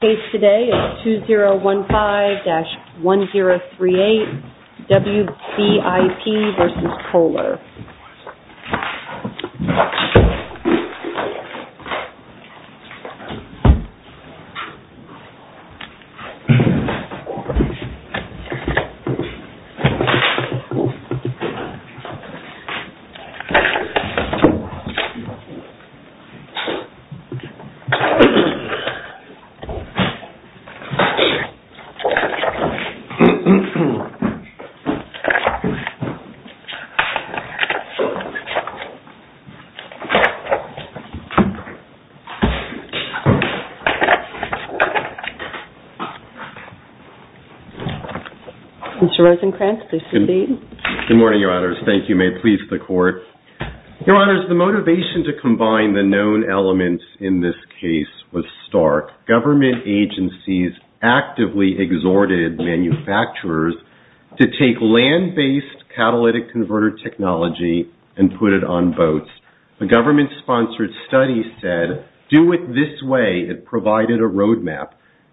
The case today is 2015-1038 WBIP v. Kohler. Mr. Rosencrantz, please proceed. Good morning, Your Honors. Thank you. May it please the Court. Your Honors, the motivation to combine the known elements in this case was stark. Government agencies actively exhorted manufacturers to take land-based catalytic converter technology and put it on boats. A government-sponsored study said, do it this way. It provided a roadmap.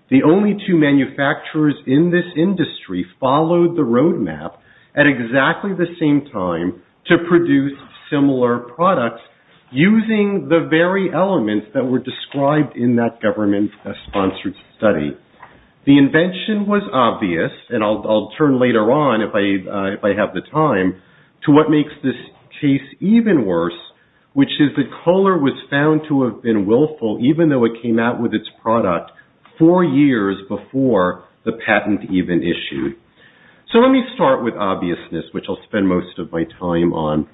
The only two manufacturers in this industry followed the roadmap at exactly the same time to produce similar products using the very elements that were described in that government-sponsored study. The invention was obvious, and I'll turn later on if I have the time, to what makes this case even worse, which is that Kohler was found to have been willful even though it came out with its product four years before the patent even issued. So let me start with obviousness, which I'll spend most of my time on.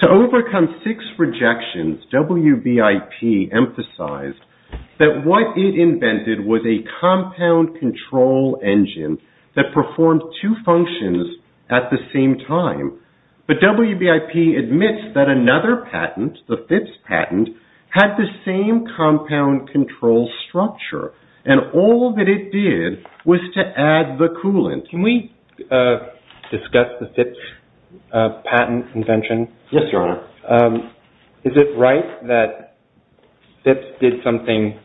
To overcome six rejections, WBIP emphasized that what it invented was a compound control engine that performed two functions at the same time. But WBIP admits that another patent, the Phipps patent, had the same compound control structure, and all that it did was to add the coolant. Can we discuss the Phipps patent invention? Yes, Your Honor. Is it right that Phipps did something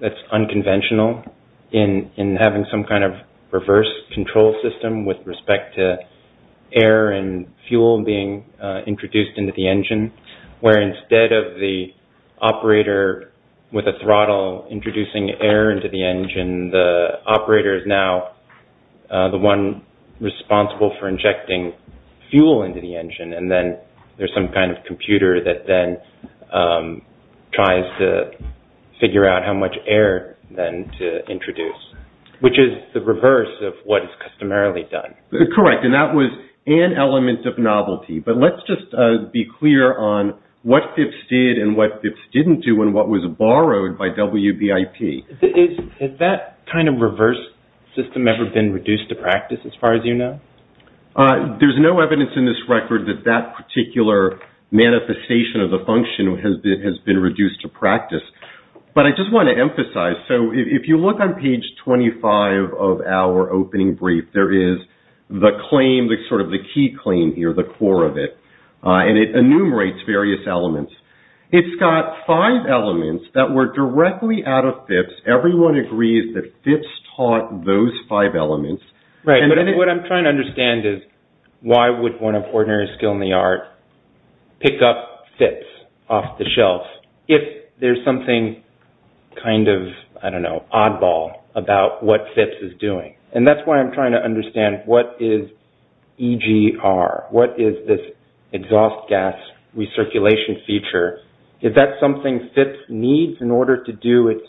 that's unconventional in having some kind of reverse control system with respect to air and fuel being introduced into the engine, where instead of the operator with a throttle introducing air into the engine, the operator is now the one responsible for injecting fuel into the engine, and then there's some kind of computer that then tries to figure out how much air then to introduce, which is the reverse of what is customarily done? Correct, and that was an element of novelty. But let's just be clear on what Phipps did and what Phipps didn't do and what was borrowed by WBIP. Has that kind of reverse system ever been reduced to practice as far as you know? There's no evidence in this record that that particular manifestation of the function has been reduced to practice. But I just want to emphasize, so if you look on page 25 of our opening brief, there is the claim, sort of the key claim here, the core of it, and it enumerates various elements. It's got five elements that were directly out of Phipps. Everyone agrees that Phipps taught those five elements. Right, but what I'm trying to understand is why would one of ordinary skill in the art pick up Phipps off the shelf if there's something kind of, I don't know, oddball about what Phipps is doing? And that's why I'm trying to understand what is EGR? What is this exhaust gas recirculation feature? Is that something Phipps needs in order to do its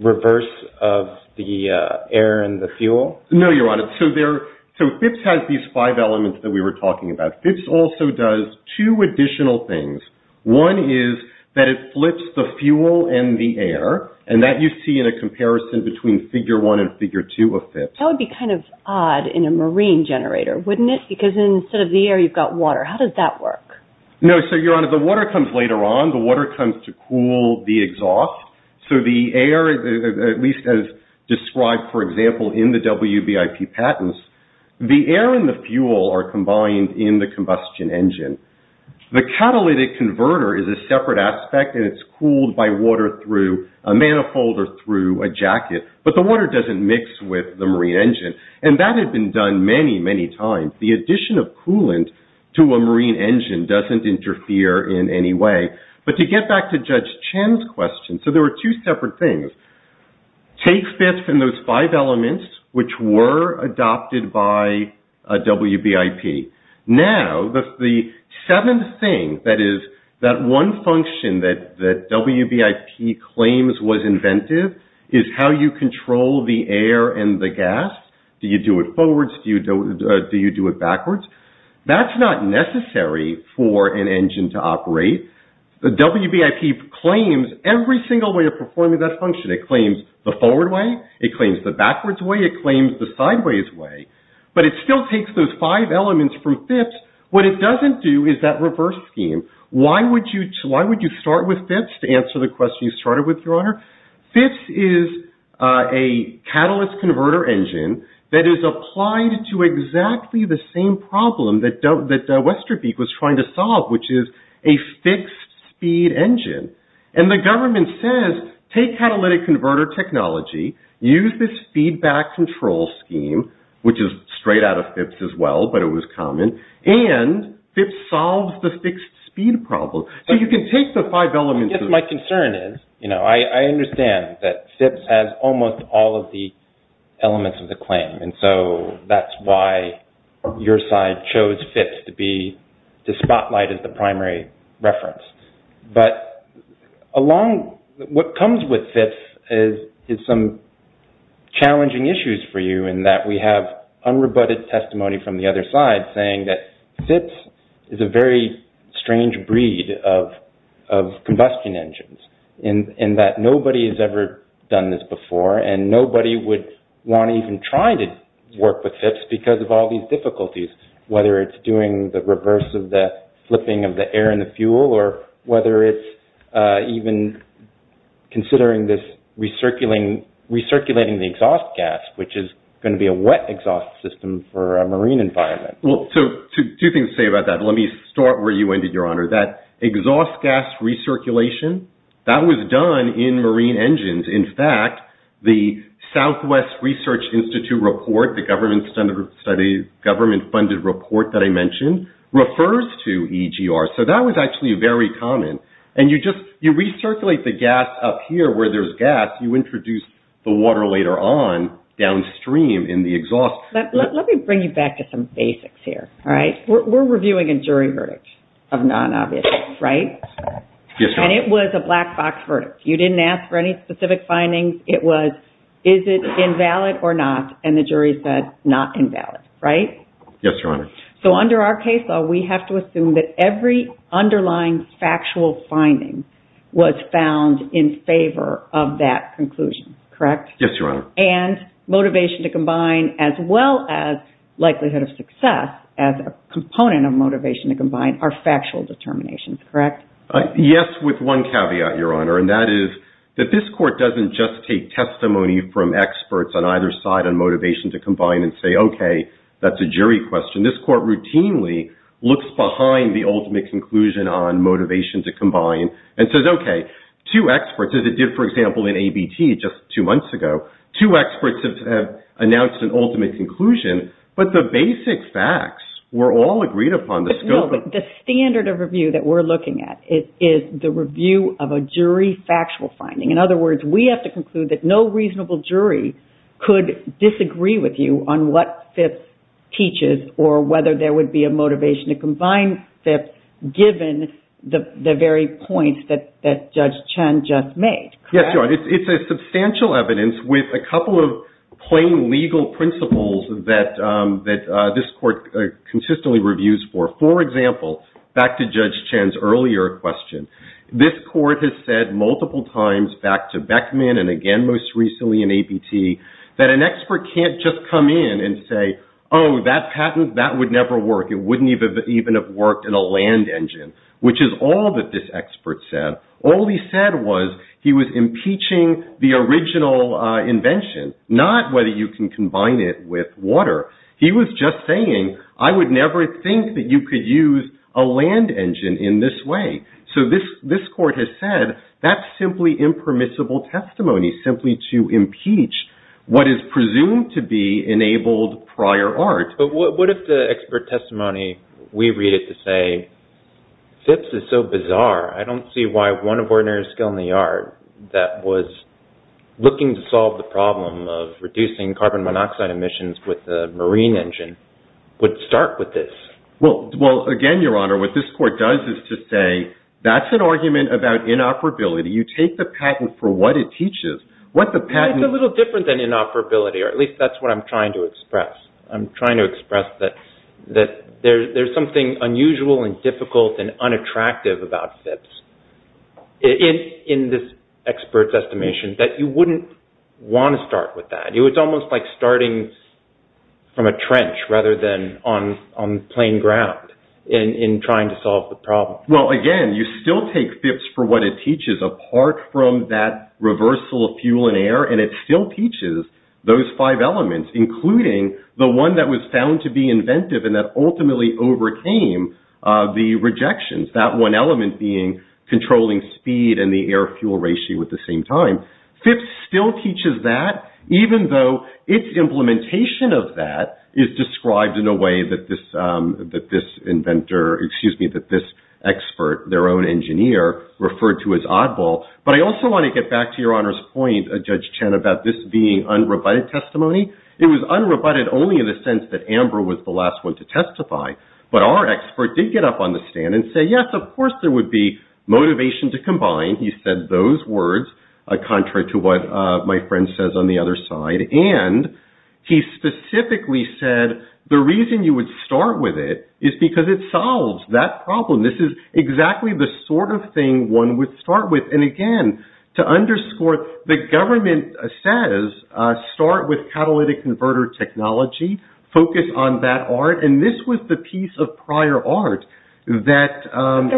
reverse of the air and the fuel? No, Your Honor. So Phipps has these five elements that we were talking about. Phipps also does two additional things. One is that it flips the fuel and the air, and that you see in a comparison between figure one and figure two of Phipps. That would be kind of odd in a marine generator, wouldn't it? Because instead of the air, you've got water. How does that work? No, so Your Honor, the water comes later on. The water comes to cool the exhaust. So the air, at least as described, for example, in the WBIP patents, the air and the fuel are combined in the combustion engine. The catalytic converter is a separate aspect, and it's cooled by water through a manifold or through a jacket. But the water doesn't mix with the marine engine. And that had been done many, many times. The addition of coolant to a marine engine doesn't interfere in any way. But to get back to Judge Chen's question, so there were two separate things. Take Phipps and those five elements, which were adopted by WBIP. Now, the seventh thing, that is, that one function that WBIP claims was inventive, is how you control the air and the gas. Do you do it forwards? Do you do it backwards? That's not necessary for an engine to operate. WBIP claims every single way of performing that function. It claims the forward way. It claims the backwards way. It claims the sideways way. But it still takes those five elements from Phipps. What it doesn't do is that reverse scheme. Why would you start with Phipps to answer the question you started with, Your Honor? Phipps is a catalyst converter engine that is applied to exactly the same problem that Westerbeek was trying to solve, which is a fixed speed engine. And the government says, take catalytic converter technology, use this feedback control scheme, which is straight out of Phipps as well, but it was common. And Phipps solves the fixed speed problem. So you can take the five elements. I guess my concern is, you know, I understand that Phipps has almost all of the elements of the claim. And so that's why your side chose Phipps to spotlight as the primary reference. But what comes with Phipps is some challenging issues for you in that we have unrebutted testimony from the other side saying that Phipps is a very strange breed of combustion engines, in that nobody has ever done this before, and nobody would want to even try to work with Phipps because of all these difficulties, whether it's doing the reverse of the flipping of the air in the fuel or whether it's even considering this recirculating the exhaust gas, which is going to be a wet exhaust system for a marine environment. Well, two things to say about that. Let me start where you ended, Your Honor. That exhaust gas recirculation, that was done in marine engines. In fact, the Southwest Research Institute report, the government-funded report that I mentioned, refers to EGR. So that was actually very common. And you just recirculate the gas up here where there's gas. You introduce the water later on downstream in the exhaust. Let me bring you back to some basics here, all right? We're reviewing a jury verdict of non-obviousness, right? Yes, Your Honor. And it was a black box verdict. You didn't ask for any specific findings. It was is it invalid or not, and the jury said not invalid, right? Yes, Your Honor. So under our case law, we have to assume that every underlying factual finding was found in favor of that conclusion, correct? Yes, Your Honor. And motivation to combine as well as likelihood of success as a component of motivation to combine are factual determinations, correct? Yes, with one caveat, Your Honor, and that is that this court doesn't just take testimony from experts on either side on motivation to combine and say, okay, that's a jury question. This court routinely looks behind the ultimate conclusion on motivation to combine and says, okay, two experts, as it did, for example, in ABT just two months ago. Two experts have announced an ultimate conclusion, but the basic facts were all agreed upon. No, but the standard of review that we're looking at is the review of a jury factual finding. In other words, we have to conclude that no reasonable jury could disagree with you on what FIPS teaches or whether there would be a motivation to combine FIPS given the very points that Judge Chen just made, correct? Yes, Your Honor. It's a substantial evidence with a couple of plain legal principles that this court consistently reviews for. For example, back to Judge Chen's earlier question, this court has said multiple times back to Beckman and again most recently in ABT that an expert can't just come in and say, oh, that patent, that would never work. It wouldn't even have worked in a land engine, which is all that this expert said. All he said was he was impeaching the original invention, not whether you can combine it with water. He was just saying I would never think that you could use a land engine in this way. So this court has said that's simply impermissible testimony simply to impeach what is presumed to be enabled prior art. But what if the expert testimony, we read it to say, FIPS is so bizarre. I don't see why one of ordinary skill in the art that was looking to solve the problem of reducing carbon monoxide emissions with a marine engine would start with this. Well, again, Your Honor, what this court does is to say that's an argument about inoperability. You take the patent for what it teaches. It's a little different than inoperability, or at least that's what I'm trying to express. I'm trying to express that there's something unusual and difficult and unattractive about FIPS in this expert's estimation that you wouldn't want to start with that. It's almost like starting from a trench rather than on plain ground in trying to solve the problem. Well, again, you still take FIPS for what it teaches, apart from that reversal of fuel and air. And it still teaches those five elements, including the one that was found to be inventive and that ultimately overcame the rejections, that one element being controlling speed and the air-fuel ratio at the same time. FIPS still teaches that, even though its implementation of that is described in a way that this inventor, excuse me, that this expert, their own engineer, referred to as oddball. But I also want to get back to Your Honor's point, Judge Chen, about this being unrebutted testimony. It was unrebutted only in the sense that Amber was the last one to testify. But our expert did get up on the stand and say, yes, of course there would be motivation to combine. He said those words, contrary to what my friend says on the other side. And he specifically said the reason you would start with it is because it solves that problem. This is exactly the sort of thing one would start with. And, again, to underscore, the government says start with catalytic converter technology, focus on that art. And this was the piece of prior art that... that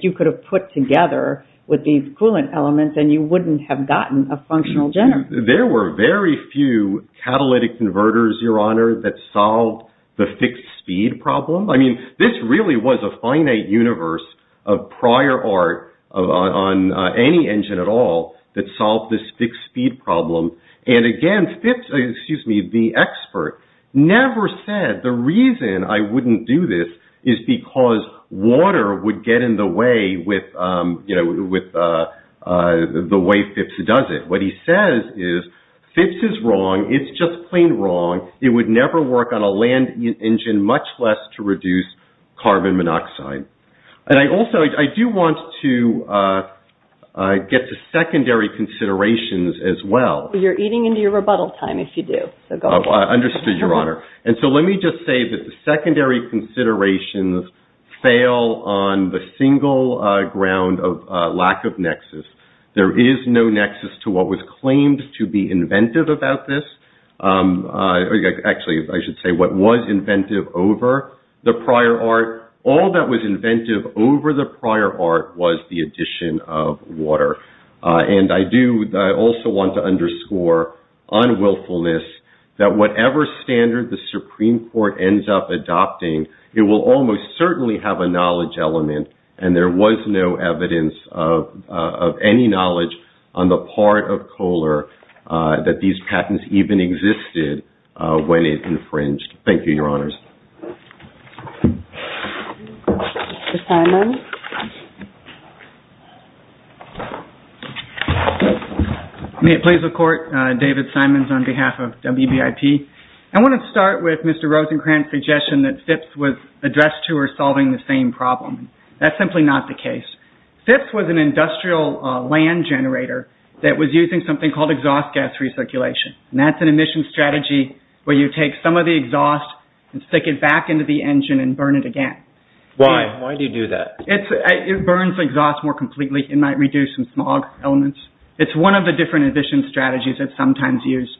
you could have put together with these coolant elements and you wouldn't have gotten a functional generator. There were very few catalytic converters, Your Honor, that solved the fixed speed problem. I mean, this really was a finite universe of prior art on any engine at all that solved this fixed speed problem. And, again, the expert never said the reason I wouldn't do this is because water would get in the way with the way FIPS does it. What he says is FIPS is wrong. It's just plain wrong. It would never work on a land engine, much less to reduce carbon monoxide. And I also I do want to get to secondary considerations as well. You're eating into your rebuttal time if you do. I understood, Your Honor. And so let me just say that the secondary considerations fail on the single ground of lack of nexus. There is no nexus to what was claimed to be inventive about this. Actually, I should say what was inventive over the prior art. All that was inventive over the prior art was the addition of water. And I do also want to underscore on willfulness that whatever standard the Supreme Court ends up adopting, it will almost certainly have a knowledge element. And there was no evidence of any knowledge on the part of Kohler that these patents even existed when it infringed. Thank you, Your Honors. Mr. Simon. May it please the Court, David Simons on behalf of WBIP. I want to start with Mr. Rosencrantz's suggestion that FIPS was addressed to or solving the same problem. That's simply not the case. FIPS was an industrial land generator that was using something called exhaust gas recirculation. And that's an emission strategy where you take some of the exhaust and stick it back into the engine and burn it again. Why? Why do you do that? It burns exhaust more completely. It might reduce some small elements. It's one of the different emission strategies that's sometimes used.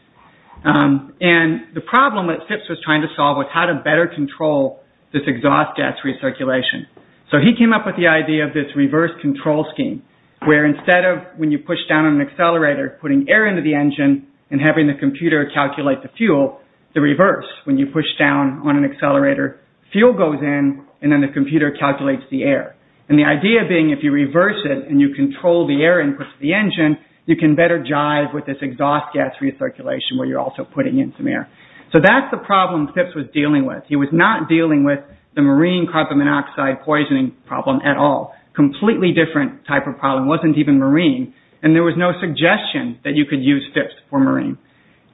And the problem that FIPS was trying to solve was how to better control this exhaust gas recirculation. So he came up with the idea of this reverse control scheme where instead of when you push down on an accelerator, putting air into the engine and having the computer calculate the fuel, the reverse. When you push down on an accelerator, fuel goes in and then the computer calculates the air. And the idea being if you reverse it and you control the air input to the engine, you can better jive with this exhaust gas recirculation where you're also putting in some air. So that's the problem FIPS was dealing with. He was not dealing with the marine carbon monoxide poisoning problem at all. Completely different type of problem. It wasn't even marine. And there was no suggestion that you could use FIPS for marine.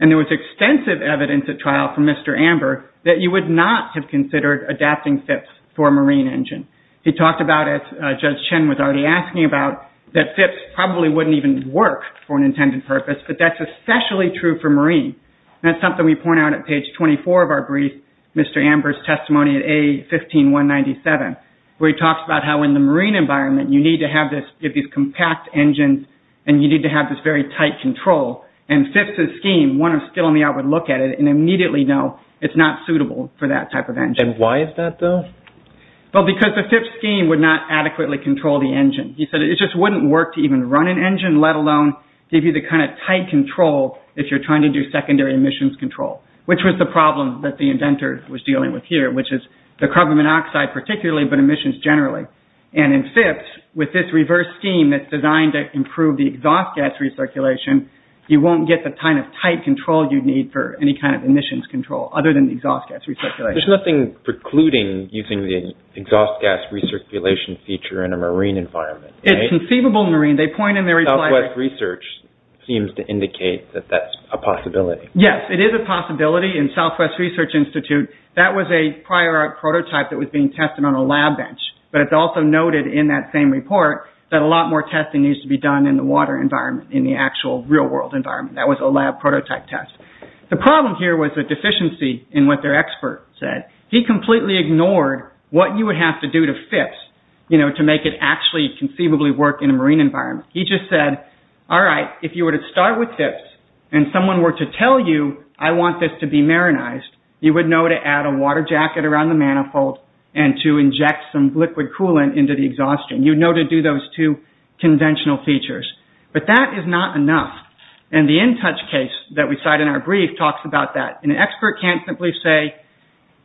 And there was extensive evidence at trial from Mr. Amber that you would not have considered adapting FIPS for a marine engine. He talked about it, Judge Chen was already asking about, that FIPS probably wouldn't even work for an intended purpose. But that's especially true for marine. And that's something we point out at page 24 of our brief, Mr. Amber's testimony at A15197, where he talks about how in the marine environment you need to have this, you have these compact engines and you need to have this very tight control. And FIPS's scheme, one of the skill in the art would look at it and immediately know it's not suitable for that type of engine. And why is that though? Well, because the FIPS scheme would not adequately control the engine. He said it just wouldn't work to even run an engine, let alone give you the kind of tight control if you're trying to do secondary emissions control, which was the problem that the inventor was dealing with here, which is the carbon monoxide particularly, but emissions generally. And in FIPS, with this reverse scheme that's designed to improve the exhaust gas recirculation, you won't get the kind of tight control you'd need for any kind of emissions control, other than the exhaust gas recirculation. There's nothing precluding using the exhaust gas recirculation feature in a marine environment. It's conceivable marine, they point in their reply. Southwest research seems to indicate that that's a possibility. Yes, it is a possibility in Southwest Research Institute. That was a prior art prototype that was being tested on a lab bench, but it's also noted in that same report that a lot more testing needs to be done in the water environment, in the actual real world environment. That was a lab prototype test. The problem here was a deficiency in what their expert said. He completely ignored what you would have to do to FIPS to make it actually conceivably work in a marine environment. He just said, all right, if you were to start with FIPS and someone were to tell you, I want this to be marinized, you would know to add a water jacket around the manifold and to inject some liquid coolant into the exhaustion. You'd know to do those two conventional features. But that is not enough. And the InTouch case that we cite in our brief talks about that. An expert can't simply say,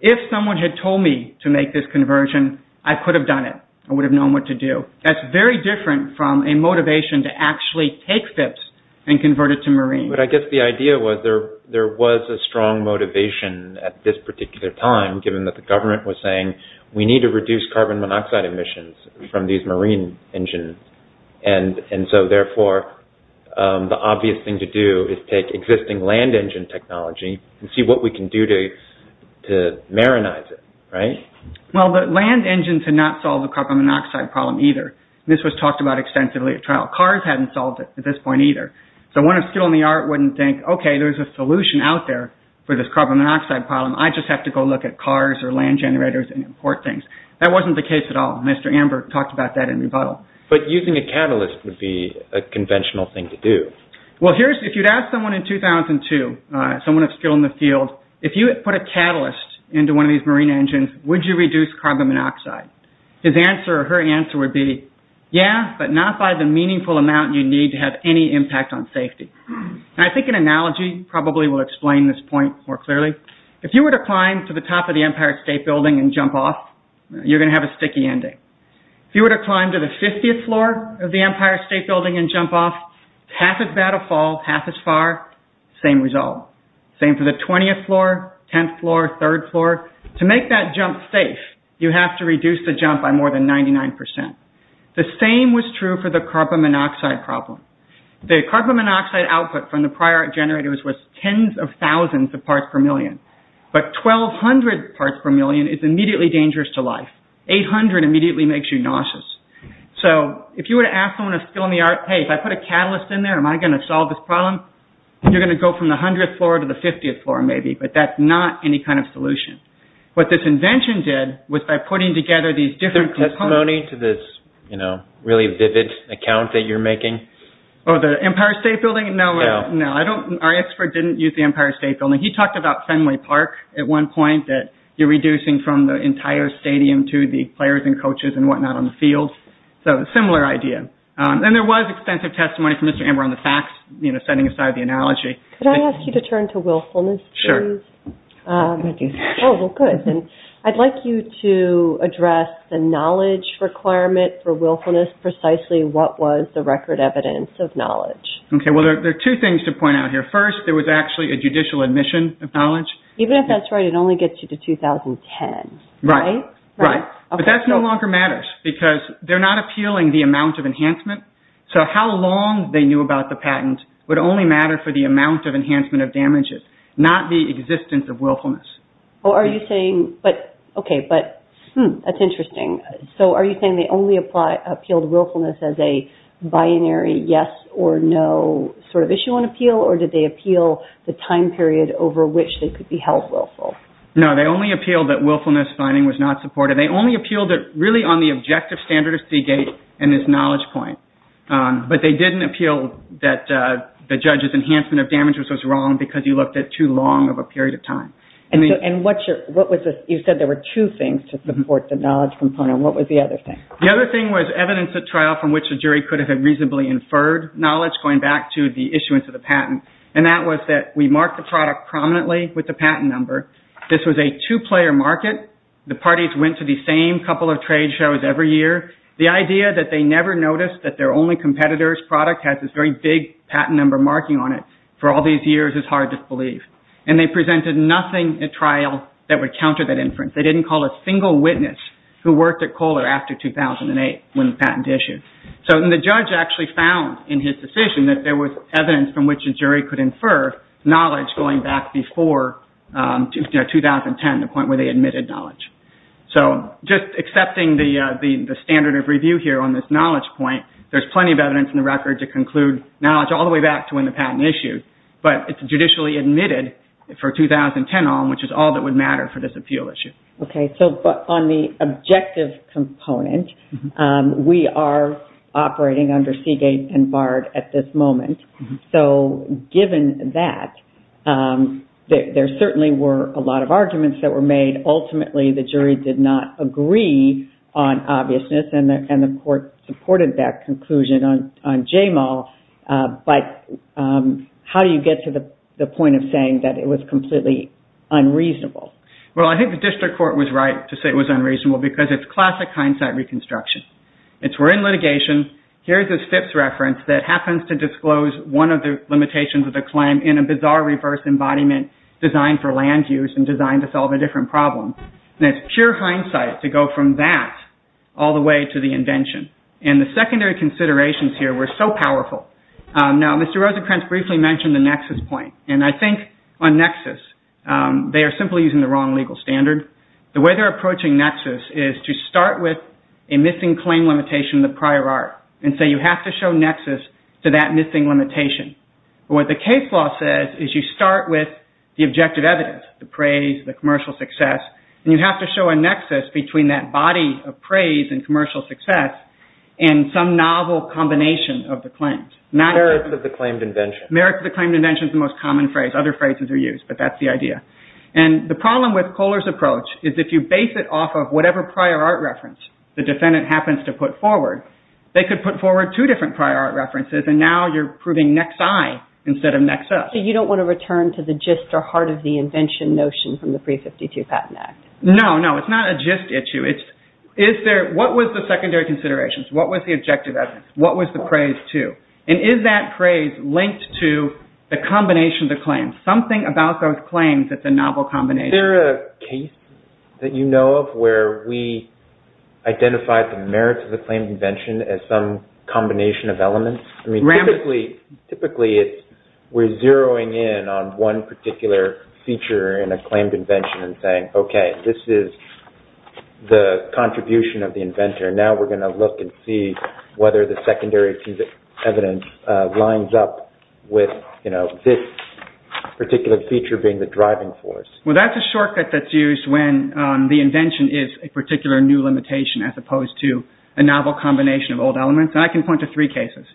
if someone had told me to make this conversion, I could have done it. I would have known what to do. That's very different from a motivation to actually take FIPS and convert it to marine. But I guess the idea was there was a strong motivation at this particular time, given that the government was saying, we need to reduce carbon monoxide emissions from these marine engines. And so, therefore, the obvious thing to do is take existing land engine technology and see what we can do to marinize it, right? Well, the land engines had not solved the carbon monoxide problem either. This was talked about extensively at trial. Cars hadn't solved it at this point either. So one of skill in the art wouldn't think, okay, there's a solution out there for this carbon monoxide problem. I just have to go look at cars or land generators and import things. That wasn't the case at all. Mr. Amber talked about that in rebuttal. But using a catalyst would be a conventional thing to do. Well, if you'd ask someone in 2002, someone of skill in the field, if you put a catalyst into one of these marine engines, would you reduce carbon monoxide? His answer or her answer would be, yeah, but not by the meaningful amount you need to have any impact on safety. And I think an analogy probably will explain this point more clearly. If you were to climb to the top of the Empire State Building and jump off, you're going to have a sticky ending. If you were to climb to the 50th floor of the Empire State Building and jump off, half as bad a fall, half as far, same result. Same for the 20th floor, 10th floor, 3rd floor. To make that jump safe, you have to reduce the jump by more than 99%. The same was true for the carbon monoxide problem. The carbon monoxide output from the prior generators was tens of thousands of parts per million. But 1,200 parts per million is immediately dangerous to life. 800 immediately makes you nauseous. So if you were to ask someone of skill in the art, hey, if I put a catalyst in there, am I going to solve this problem? You're going to go from the 100th floor to the 50th floor maybe, but that's not any kind of solution. What this invention did was by putting together these different components. Do you have any testimony to this really vivid account that you're making? Oh, the Empire State Building? No. No, our expert didn't use the Empire State Building. He talked about Fenway Park at one point, that you're reducing from the entire stadium to the players and coaches and whatnot on the field. So a similar idea. And there was extensive testimony from Mr. Amber on the facts, setting aside the analogy. Could I ask you to turn to willfulness, please? Sure. Oh, well, good. I'd like you to address the knowledge requirement for willfulness, precisely what was the record evidence of knowledge. Okay, well, there are two things to point out here. First, there was actually a judicial admission of knowledge. Even if that's right, it only gets you to 2010, right? Right. But that no longer matters because they're not appealing the amount of enhancement. So how long they knew about the patent would only matter for the amount of enhancement of damages, not the existence of willfulness. Oh, are you saying – okay, but that's interesting. So are you saying they only appealed willfulness as a binary yes or no sort of issue on appeal, or did they appeal the time period over which they could be held willful? No, they only appealed that willfulness finding was not supported. They only appealed it really on the objective standard of Seagate and its knowledge point. But they didn't appeal that the judge's enhancement of damages was wrong because you looked at too long of a period of time. And you said there were two things to support the knowledge component. What was the other thing? The other thing was evidence at trial from which the jury could have reasonably inferred knowledge, going back to the issuance of the patent, and that was that we marked the product prominently with the patent number. This was a two-player market. The parties went to the same couple of trade shows every year. The idea that they never noticed that their only competitor's product had this very big patent number marking on it for all these years is hard to believe. And they presented nothing at trial that would counter that inference. They didn't call a single witness who worked at Kohler after 2008 when the patent issued. So the judge actually found in his decision that there was evidence from which a jury could infer knowledge going back before 2010, the point where they admitted knowledge. So just accepting the standard of review here on this knowledge point, there's plenty of evidence in the record to conclude knowledge all the way back to when the patent issued. But it's judicially admitted for 2010 on, which is all that would matter for this appeal issue. Okay. So on the objective component, we are operating under Seagate and Bard at this moment. So given that, there certainly were a lot of arguments that were made. Ultimately, the jury did not agree on obviousness, and the court supported that conclusion on JAMAL. But how do you get to the point of saying that it was completely unreasonable? Well, I think the district court was right to say it was unreasonable because it's classic hindsight reconstruction. It's we're in litigation, here's this FIPS reference that happens to disclose one of the limitations of the claim in a bizarre reverse embodiment designed for land use and designed to solve a different problem. And it's pure hindsight to go from that all the way to the invention. And the secondary considerations here were so powerful. Now, Mr. Rosenkranz briefly mentioned the nexus point. And I think on nexus, they are simply using the wrong legal standard. The way they're approaching nexus is to start with a missing claim limitation in the prior art. And so you have to show nexus to that missing limitation. But what the case law says is you start with the objective evidence, the praise, the commercial success, and you have to show a nexus between that body of praise and commercial success and some novel combination of the claims. Merits of the claimed invention. Merits of the claimed invention is the most common phrase. Other phrases are used, but that's the idea. And the problem with Kohler's approach is if you base it off of whatever prior art reference the defendant happens to put forward, they could put forward two different prior art references, and now you're proving next I instead of nexus. So you don't want to return to the gist or heart of the invention notion from the Pre-52 Patent Act? No, no, it's not a gist issue. What was the secondary considerations? What was the objective evidence? What was the praise to? And is that praise linked to the combination of the claims? Something about those claims that's a novel combination. Is there a case that you know of where we identified the merits of the claimed invention as some combination of elements? Typically, we're zeroing in on one particular feature in a claimed invention and saying, okay, this is the contribution of the inventor. Now we're going to look and see whether the secondary evidence lines up with this particular feature being the driving force. Well, that's a shortcut that's used when the invention is a particular new limitation as opposed to a novel combination of old elements. And I can point to three cases.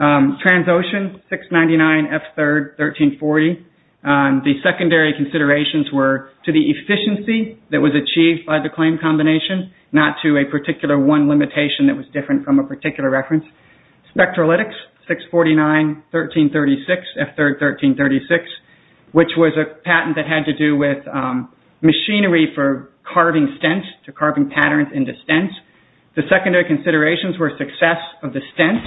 Transocean, 699 F3rd 1340. The secondary considerations were to the efficiency that was achieved by the claimed combination, not to a particular one limitation that was different from a particular reference. Spectralytics, 649 1336 F3rd 1336, which was a patent that had to do with machinery for carving stents, carving patterns into stents. The secondary considerations were success of the stents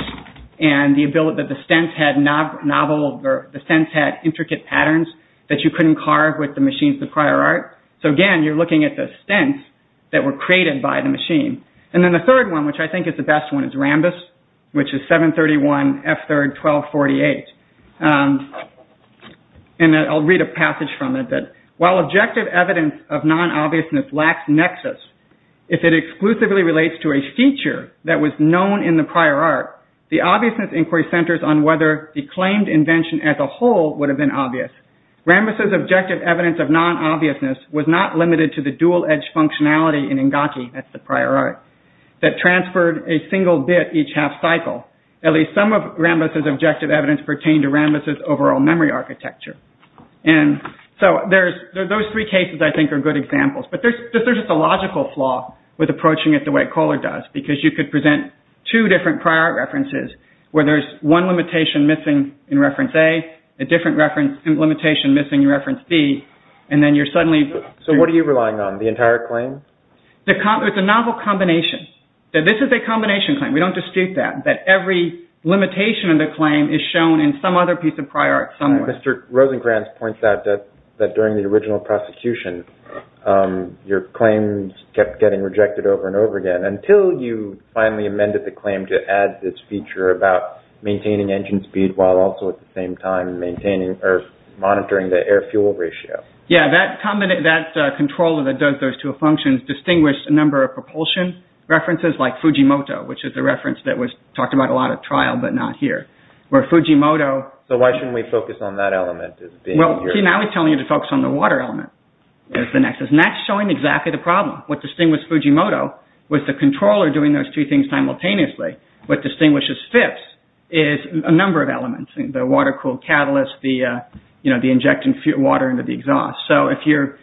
and the ability that the stents had novel, or the stents had intricate patterns that you couldn't carve with the machines of prior art. So again, you're looking at the stents that were created by the machine. And then the third one, which I think is the best one, is Rambus, which is 731 F3rd 1248. And I'll read a passage from it. While objective evidence of non-obviousness lacks nexus, if it exclusively relates to a feature that was known in the prior art, the obviousness inquiry centers on whether the claimed invention as a whole would have been obvious. Rambus's objective evidence of non-obviousness was not limited to the dual-edge functionality in Engaki, that's the prior art, that transferred a single bit each half cycle. At least some of Rambus's objective evidence pertained to Rambus's overall memory architecture. And so those three cases I think are good examples. But there's just a logical flaw with approaching it the way Kohler does, because you could present two different prior art references where there's one limitation missing in reference A, a different limitation missing in reference B, and then you're suddenly... So what are you relying on, the entire claim? It's a novel combination. This is a combination claim, we don't dispute that, that every limitation of the claim is shown in some other piece of prior art somewhere. Mr. Rosenkranz points out that during the original prosecution, your claims kept getting rejected over and over again, until you finally amended the claim to add this feature about maintaining engine speed while also at the same time monitoring the air-fuel ratio. Yeah, that controller that does those two functions distinguished a number of propulsion references, like Fujimoto, which is the reference that was talked about a lot at trial but not here. So why shouldn't we focus on that element? See, now he's telling you to focus on the water element as the nexus. And that's showing exactly the problem. What distinguished Fujimoto was the controller doing those two things simultaneously. What distinguishes FIPS is a number of elements, the water-cooled catalyst, the injection of water into the exhaust. So if you're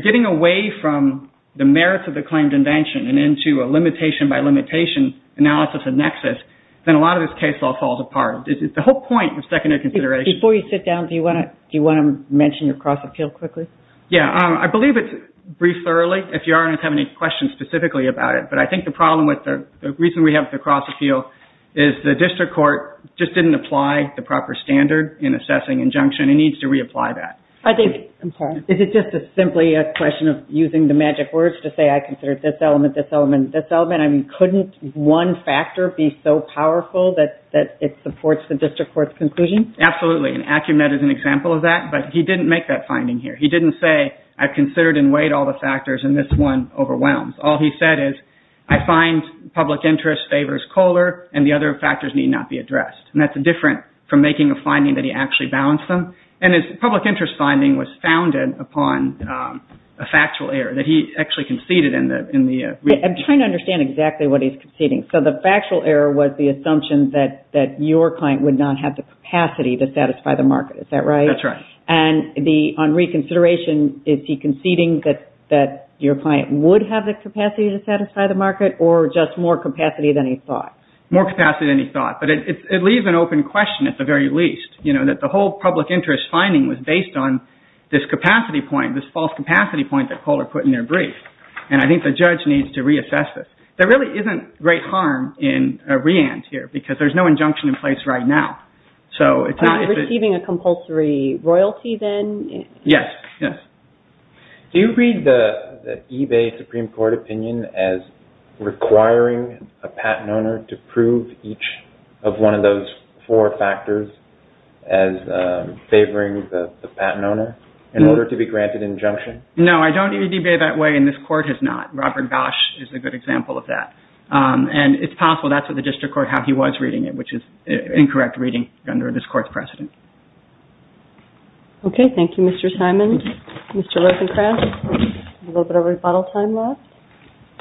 getting away from the merits of the claimed invention and into a limitation-by-limitation analysis and nexus, then a lot of this case law falls apart. It's the whole point of secondary consideration. Before you sit down, do you want to mention your cross-appeal quickly? Yeah, I believe it's brief, thoroughly. If you have any questions specifically about it. But I think the problem with the reason we have the cross-appeal is the district court just didn't apply the proper standard in assessing injunction. It needs to reapply that. Is it just simply a question of using the magic words to say, I consider this element, this element, this element? Couldn't one factor be so powerful that it supports the district court's conclusion? Absolutely, and Acumet is an example of that. But he didn't make that finding here. He didn't say, I considered and weighed all the factors and this one overwhelms. All he said is, I find public interest favors Kohler and the other factors need not be addressed. And that's different from making a finding that he actually balanced them. And his public interest finding was founded upon a factual error that he actually conceded in the reading. I'm trying to understand exactly what he's conceding. So the factual error was the assumption that your client would not have the capacity to satisfy the market, is that right? That's right. And on reconsideration, is he conceding that your client would have the capacity to satisfy the market or just more capacity than he thought? More capacity than he thought. But it leaves an open question at the very least, you know, that the whole public interest finding was based on this capacity point, this false capacity point that Kohler put in their brief. And I think the judge needs to reassess this. There really isn't great harm in a re-and here because there's no injunction in place right now. So it's not... Receiving a compulsory royalty then? Yes, yes. Do you read the eBay Supreme Court opinion as requiring a patent owner to prove each of one of those four factors as favoring the patent owner in order to be granted injunction? No, I don't read eBay that way and this court has not. Robert Gash is a good example of that. And it's possible that's what the district court had. He was reading it, which is incorrect reading under this court's precedent. Okay, thank you, Mr. Simon. Mr. Rosenkranz, a little bit of rebuttal time left.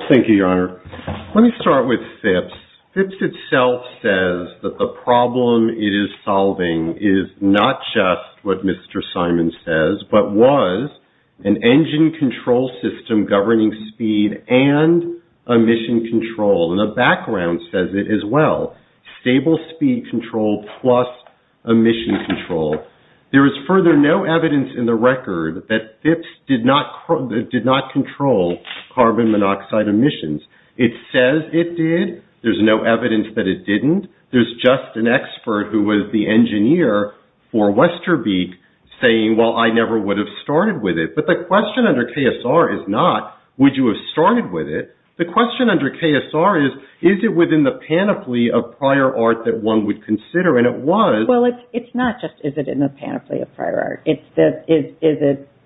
Thank you, Your Honor. Let me start with Phipps. Phipps itself says that the problem it is solving is not just what Mr. Simon says but was an engine control system governing speed and emission control. And the background says it as well. Stable speed control plus emission control. There is further no evidence in the record that Phipps did not control carbon monoxide emissions. It says it did. There's no evidence that it didn't. There's just an expert who was the engineer for Westerbeek saying, well, I never would have started with it. But the question under KSR is not would you have started with it. The question under KSR is, is it within the panoply of prior art that one would consider? And it was. Well, it's not just is it in the panoply of prior art. Is it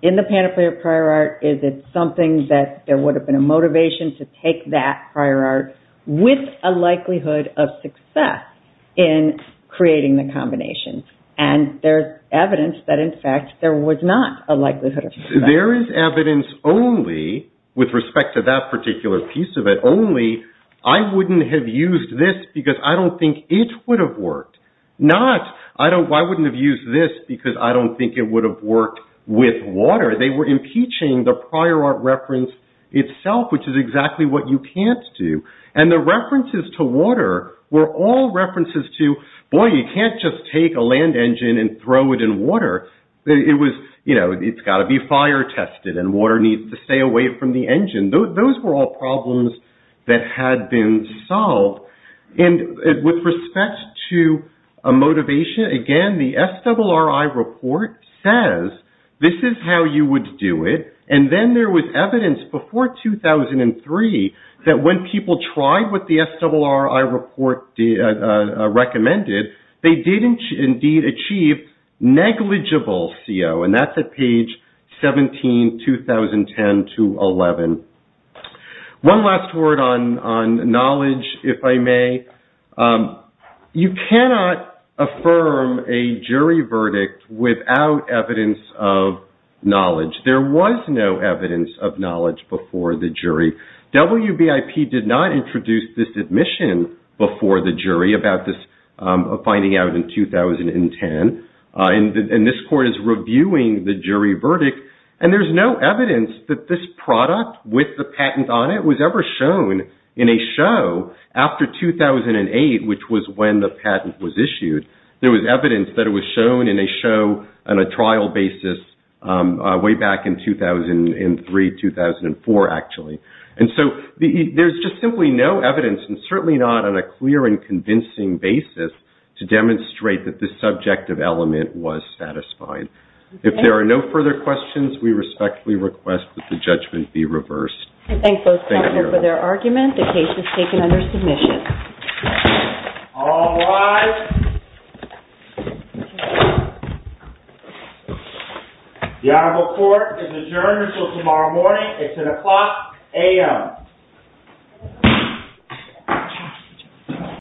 in the panoply of prior art? Is it something that there would have been a motivation to take that prior art with a likelihood of success in creating the combination? And there's evidence that, in fact, there was not a likelihood of success. There is evidence only with respect to that particular piece of it, only I wouldn't have used this because I don't think it would have worked. Not I wouldn't have used this because I don't think it would have worked with water. They were impeaching the prior art reference itself, which is exactly what you can't do. And the references to water were all references to, boy, you can't just take a land engine and throw it in water. It was, you know, it's got to be fire tested and water needs to stay away from the engine. Those were all problems that had been solved. And with respect to a motivation, again, the SRRI report says this is how you would do it. And then there was evidence before 2003 that when people tried what the SRRI report recommended, they did indeed achieve negligible CO. And that's at page 17, 2010 to 11. One last word on knowledge, if I may. You cannot affirm a jury verdict without evidence of knowledge. There was no evidence of knowledge before the jury. WBIP did not introduce this admission before the jury about this finding out in 2010. And this court is reviewing the jury verdict. And there's no evidence that this product with the patent on it was ever shown in a show after 2008, which was when the patent was issued. There was evidence that it was shown in a show on a trial basis way back in 2003, 2004, actually. And so there's just simply no evidence, and certainly not on a clear and convincing basis, to demonstrate that this subjective element was satisfied. If there are no further questions, we respectfully request that the judgment be reversed. Thank you. All rise. The Honorable Court is adjourned until tomorrow morning. It's an o'clock a.m.